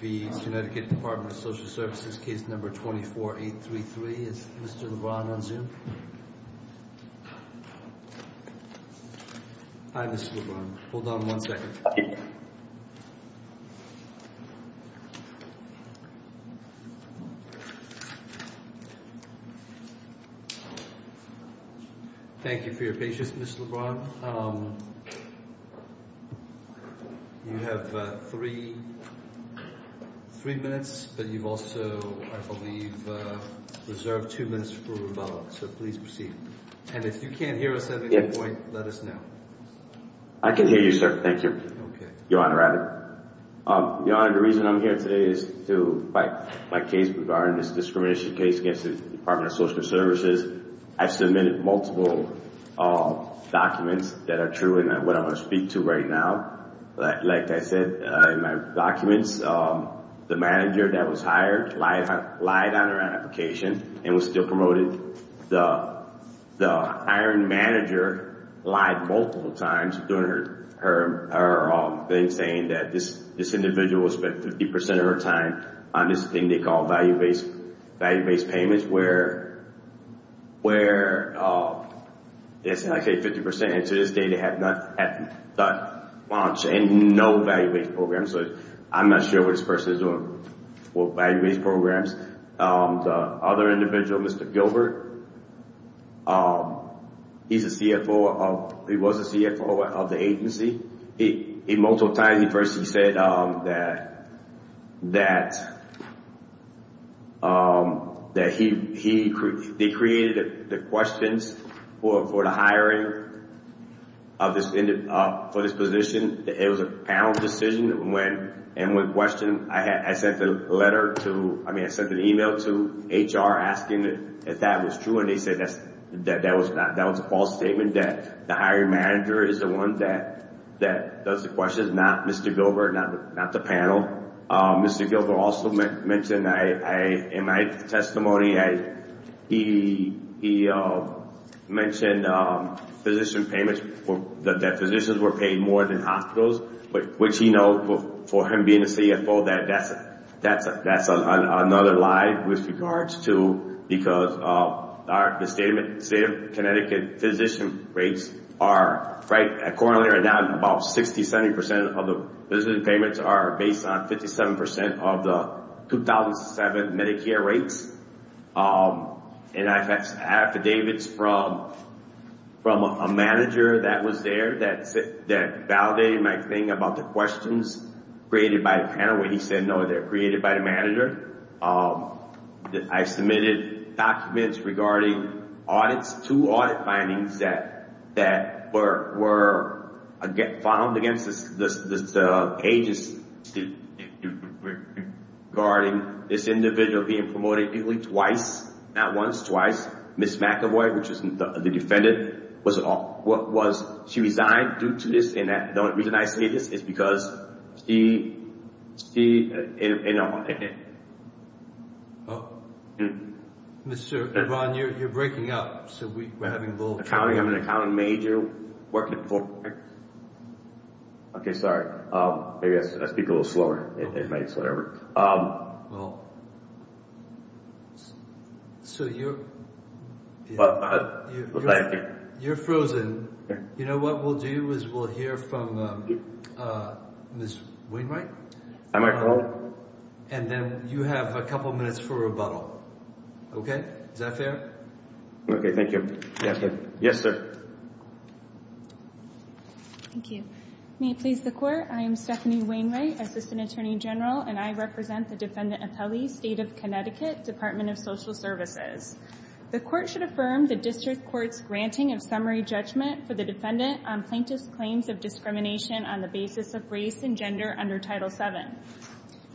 v. Connecticut Department of Social Services, case number 24833. Is Mr. Lebron on Zoom? Hi, Mr. Lebron. Hold on one second. Thank you for your patience, Mr. Lebron. You have three minutes, but you've also, I believe, reserved two minutes for rebuttal. So please proceed. And if you can't hear us let us know. I can hear you, sir. Thank you, Your Honor. Your Honor, the reason I'm here today is to fight my case regarding this discrimination case against the Department of Social Services. I've submitted multiple documents that are true and what I want to speak to right now. Like I said in my documents, the manager that was hired lied on her application and was still The hiring manager lied multiple times during her thing saying that this individual spent 50% of her time on this thing they call value-based payments where, I say 50%, and to this day they have not launched any no value-based programs. I'm not sure what this person is doing with value-based programs. The other individual, Mr. Gilbert, he's a CFO of, he was a CFO of the agency. He, multiple times he first, he said that he, they created the questions for the hiring of this, for this position. It was a panel decision that went and when questioned, I sent a letter to, I mean, I sent an email to HR asking if that was true and they said that's, that that was not, that was a false statement that the hiring manager is the one that, that does the questions, not Mr. Gilbert, not the panel. Mr. Gilbert also mentioned I, in my testimony, I, he, he mentioned physician payments for, that physicians were paid more than hospitals, which he knows, for him being a CFO, that that's, that's, that's another lie with regards to, because our, the state of Connecticut physician rates are, right, currently are down about 60, 70% of the business payments are based on 57% of the 2007 Medicare rates. And I've had affidavits from, from a manager that was there that said, that validated my thing about the questions created by the panel when he said, no, they're created by the manager. I submitted documents regarding audits, two audit findings that, that were, were found against this, this, this agency regarding this individual being promoted nearly twice, not once, twice. Ms. McEvoy, which is the defendant, was, was, she resigned due to this, and the only reason I say this is because she, she, you know. Mr. Devon, you're, you're breaking up, so we, we're having a little... Accounting, I'm an accounting major working for... Okay, sorry. Maybe I speak a little slower. It makes, whatever. So you're... You're frozen. You know what we'll do is we'll hear from Ms. Wainwright. And then you have a couple minutes for rebuttal. Okay? Is that fair? Okay, thank you. Yes, sir. Thank you. May it please the Court, I am Stephanie Wainwright, Assistant Attorney General, and I represent the Defendant Appellee, State of Connecticut, Department of Social Services. The Court should affirm the District Court's granting of summary judgment for the defendant on plaintiff's claims of discrimination on the basis of race and gender under Title VII.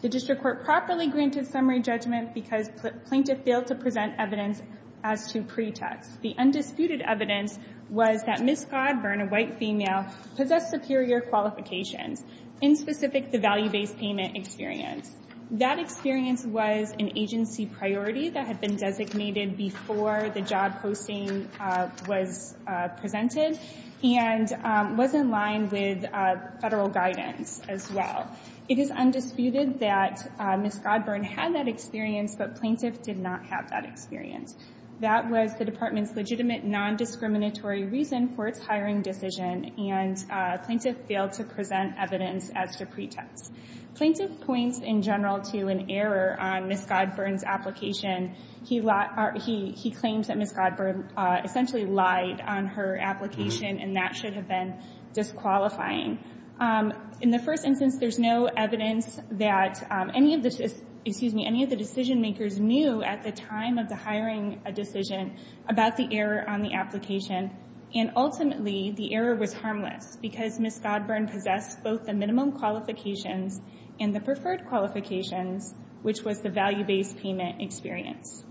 The District Court properly granted summary judgment because plaintiff failed to present evidence as to pretext. The undisputed evidence was that Ms. Godburn, a white female, possessed superior qualifications. In specific, the value-based payment experience. That experience was an agency priority that had been designated before the job posting was presented and was in line with federal guidance as well. It is undisputed that Ms. Godburn had that experience, but plaintiff did not have that experience. That was the Department's legitimate non-discriminatory reason for its hiring decision, and plaintiff failed to present evidence as to pretext. Plaintiff points in general to an error on Ms. Godburn's application. He claims that Ms. Godburn essentially lied on her application, and that should have been disqualifying. In the first instance, there's no evidence that any of the decision-makers knew at the time of the hiring a decision about the error on the application. And ultimately, the error was harmless because Ms. Godburn possessed both the minimum qualifications and the preferred qualifications, which was the value-based payment experience.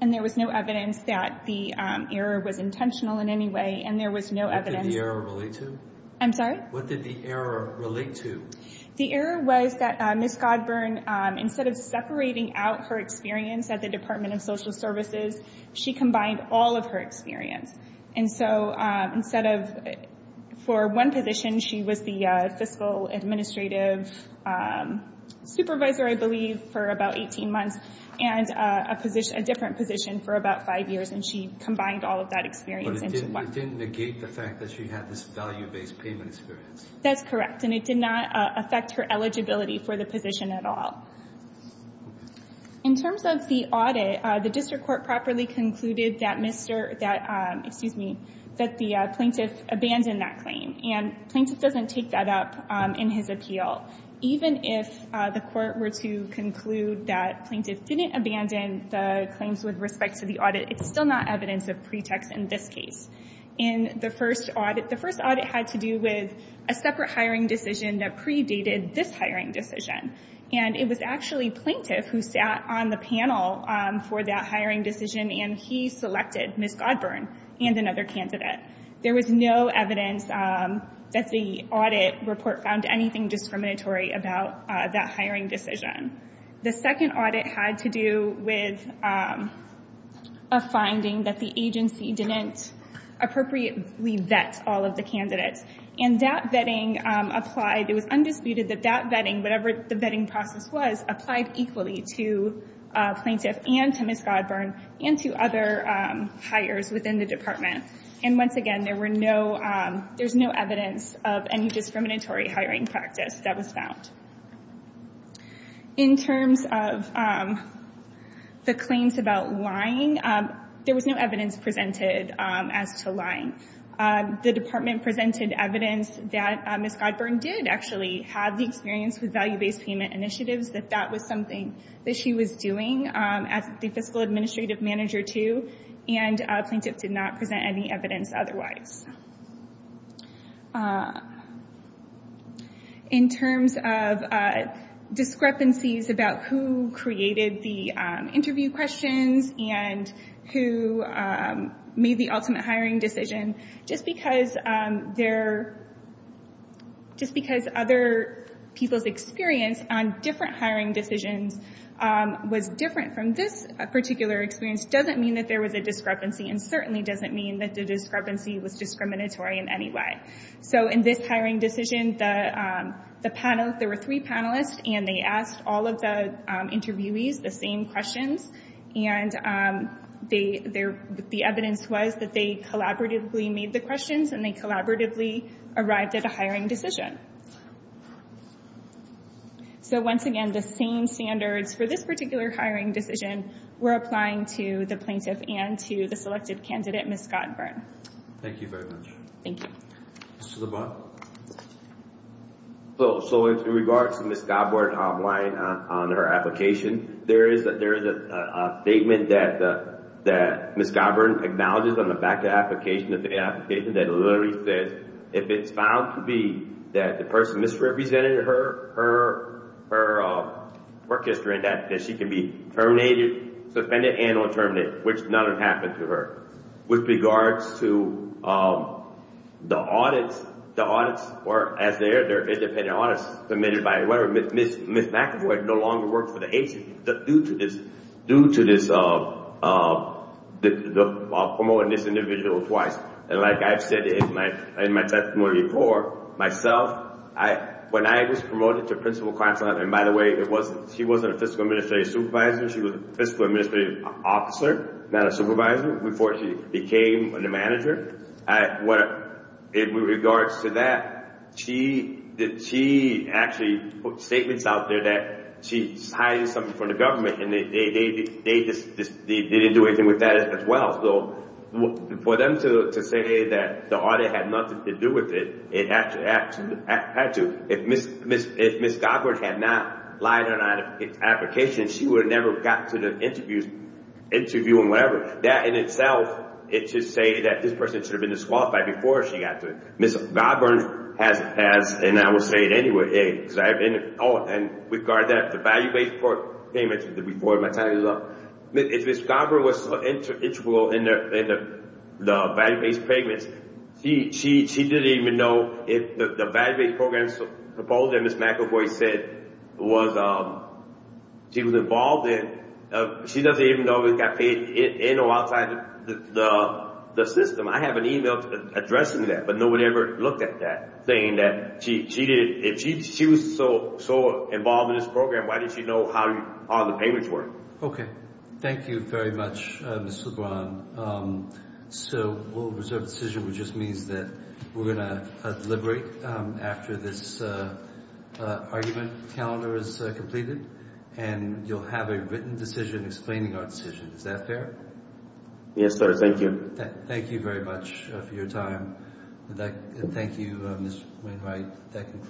And there was no evidence that the error was intentional in any way, and there was no evidence... What did the error relate to? I'm sorry? What did the error relate to? The error was that Ms. Godburn, instead of separating out her experience at the Department of Social Services, she combined all of her experience. And so, instead of for one position, she was the fiscal administrative supervisor, I believe, for about 18 months, and a different position for about five years, and she combined all of that experience into one. It didn't negate the fact that she had this value-based payment experience. That's correct, and it did not affect her eligibility for the position at all. In terms of the audit, the district court properly concluded that Mr. — that, excuse me, that the plaintiff abandoned that claim. And plaintiff doesn't take that up in his appeal. Even if the court were to conclude that plaintiff didn't abandon the claims with respect to the in the first audit, the first audit had to do with a separate hiring decision that predated this hiring decision. And it was actually plaintiff who sat on the panel for that hiring decision, and he selected Ms. Godburn and another candidate. There was no evidence that the audit report found anything discriminatory about that hiring decision. The second audit had to do with a finding that the agency didn't appropriately vet all of the candidates. And that vetting applied — it was undisputed that that vetting, whatever the vetting process was, applied equally to plaintiff and to Ms. Godburn and to other hires within the department. And once again, there were no — there's no evidence of any discriminatory hiring practice that was found. In terms of the claims about lying, there was no evidence presented as to lying. The department presented evidence that Ms. Godburn did actually have the experience with value-based payment initiatives, that that was something that she was doing as the fiscal manager. In terms of discrepancies about who created the interview questions and who made the ultimate hiring decision, just because other people's experience on different hiring decisions was different from this particular experience doesn't mean that there was a discrepancy, and certainly doesn't mean that the discrepancy was discriminatory in any way. So in this hiring decision, the panel — there were three panelists, and they asked all of the interviewees the same questions. And the evidence was that they collaboratively made the questions, and they collaboratively arrived at a hiring decision. So once again, the same standards for this particular hiring decision were applying to the plaintiff and to the selected candidate, Ms. Godburn. Thank you very much. Thank you. Mr. LeBlanc? So in regards to Ms. Godburn lying on her application, there is a statement that Ms. Godburn acknowledges on the back of the application that literally says, if it's found to be that the person misrepresented her work history, that she can be terminated, suspended, and or terminated, which none have happened to her. With regards to the audits, the audits were, as they are, they're independent audits submitted by whoever — Ms. McAvoy no longer worked for the agency due to this, due to this promoting this individual twice. And like I've said in my testimony before, myself, when I was promoted to principal counsel — and by the way, it wasn't — she wasn't a fiscal administrative supervisor. She was a fiscal administrative officer, not a supervisor, before she became the manager. In regards to that, she actually put statements out there that she cited something from the government, and they didn't do anything with that as well. So for them to say that the audit had nothing to do with it, it actually had to. If Ms. Godburn had not lied on her application, she would have never got to the interview and whatever. That in itself is to say that this person should have been disqualified before she got to it. Ms. Godburn has, and I will say it anyway, because I've been — oh, and with regard to that, the value-based payments, before my time is up, Ms. Godburn was so intuitive in the value-based payments, she didn't even know if the value-based programs proposed by Ms. McAvoy said was — she was involved in — she doesn't even know it got paid in or outside the system. I have an email addressing that, but nobody ever looked at that, saying that she didn't — if she was so involved in this program, why didn't she know how all the payments were? Okay. Thank you very much, Mr. LeBron. So we'll reserve the decision, which just means that we're going to deliberate after this argument calendar is completed, and you'll have a written decision explaining our decision. Is that fair? Yes, sir. Thank you. Thank you very much for your time. Thank you, Ms. Wainwright, for that conclusion.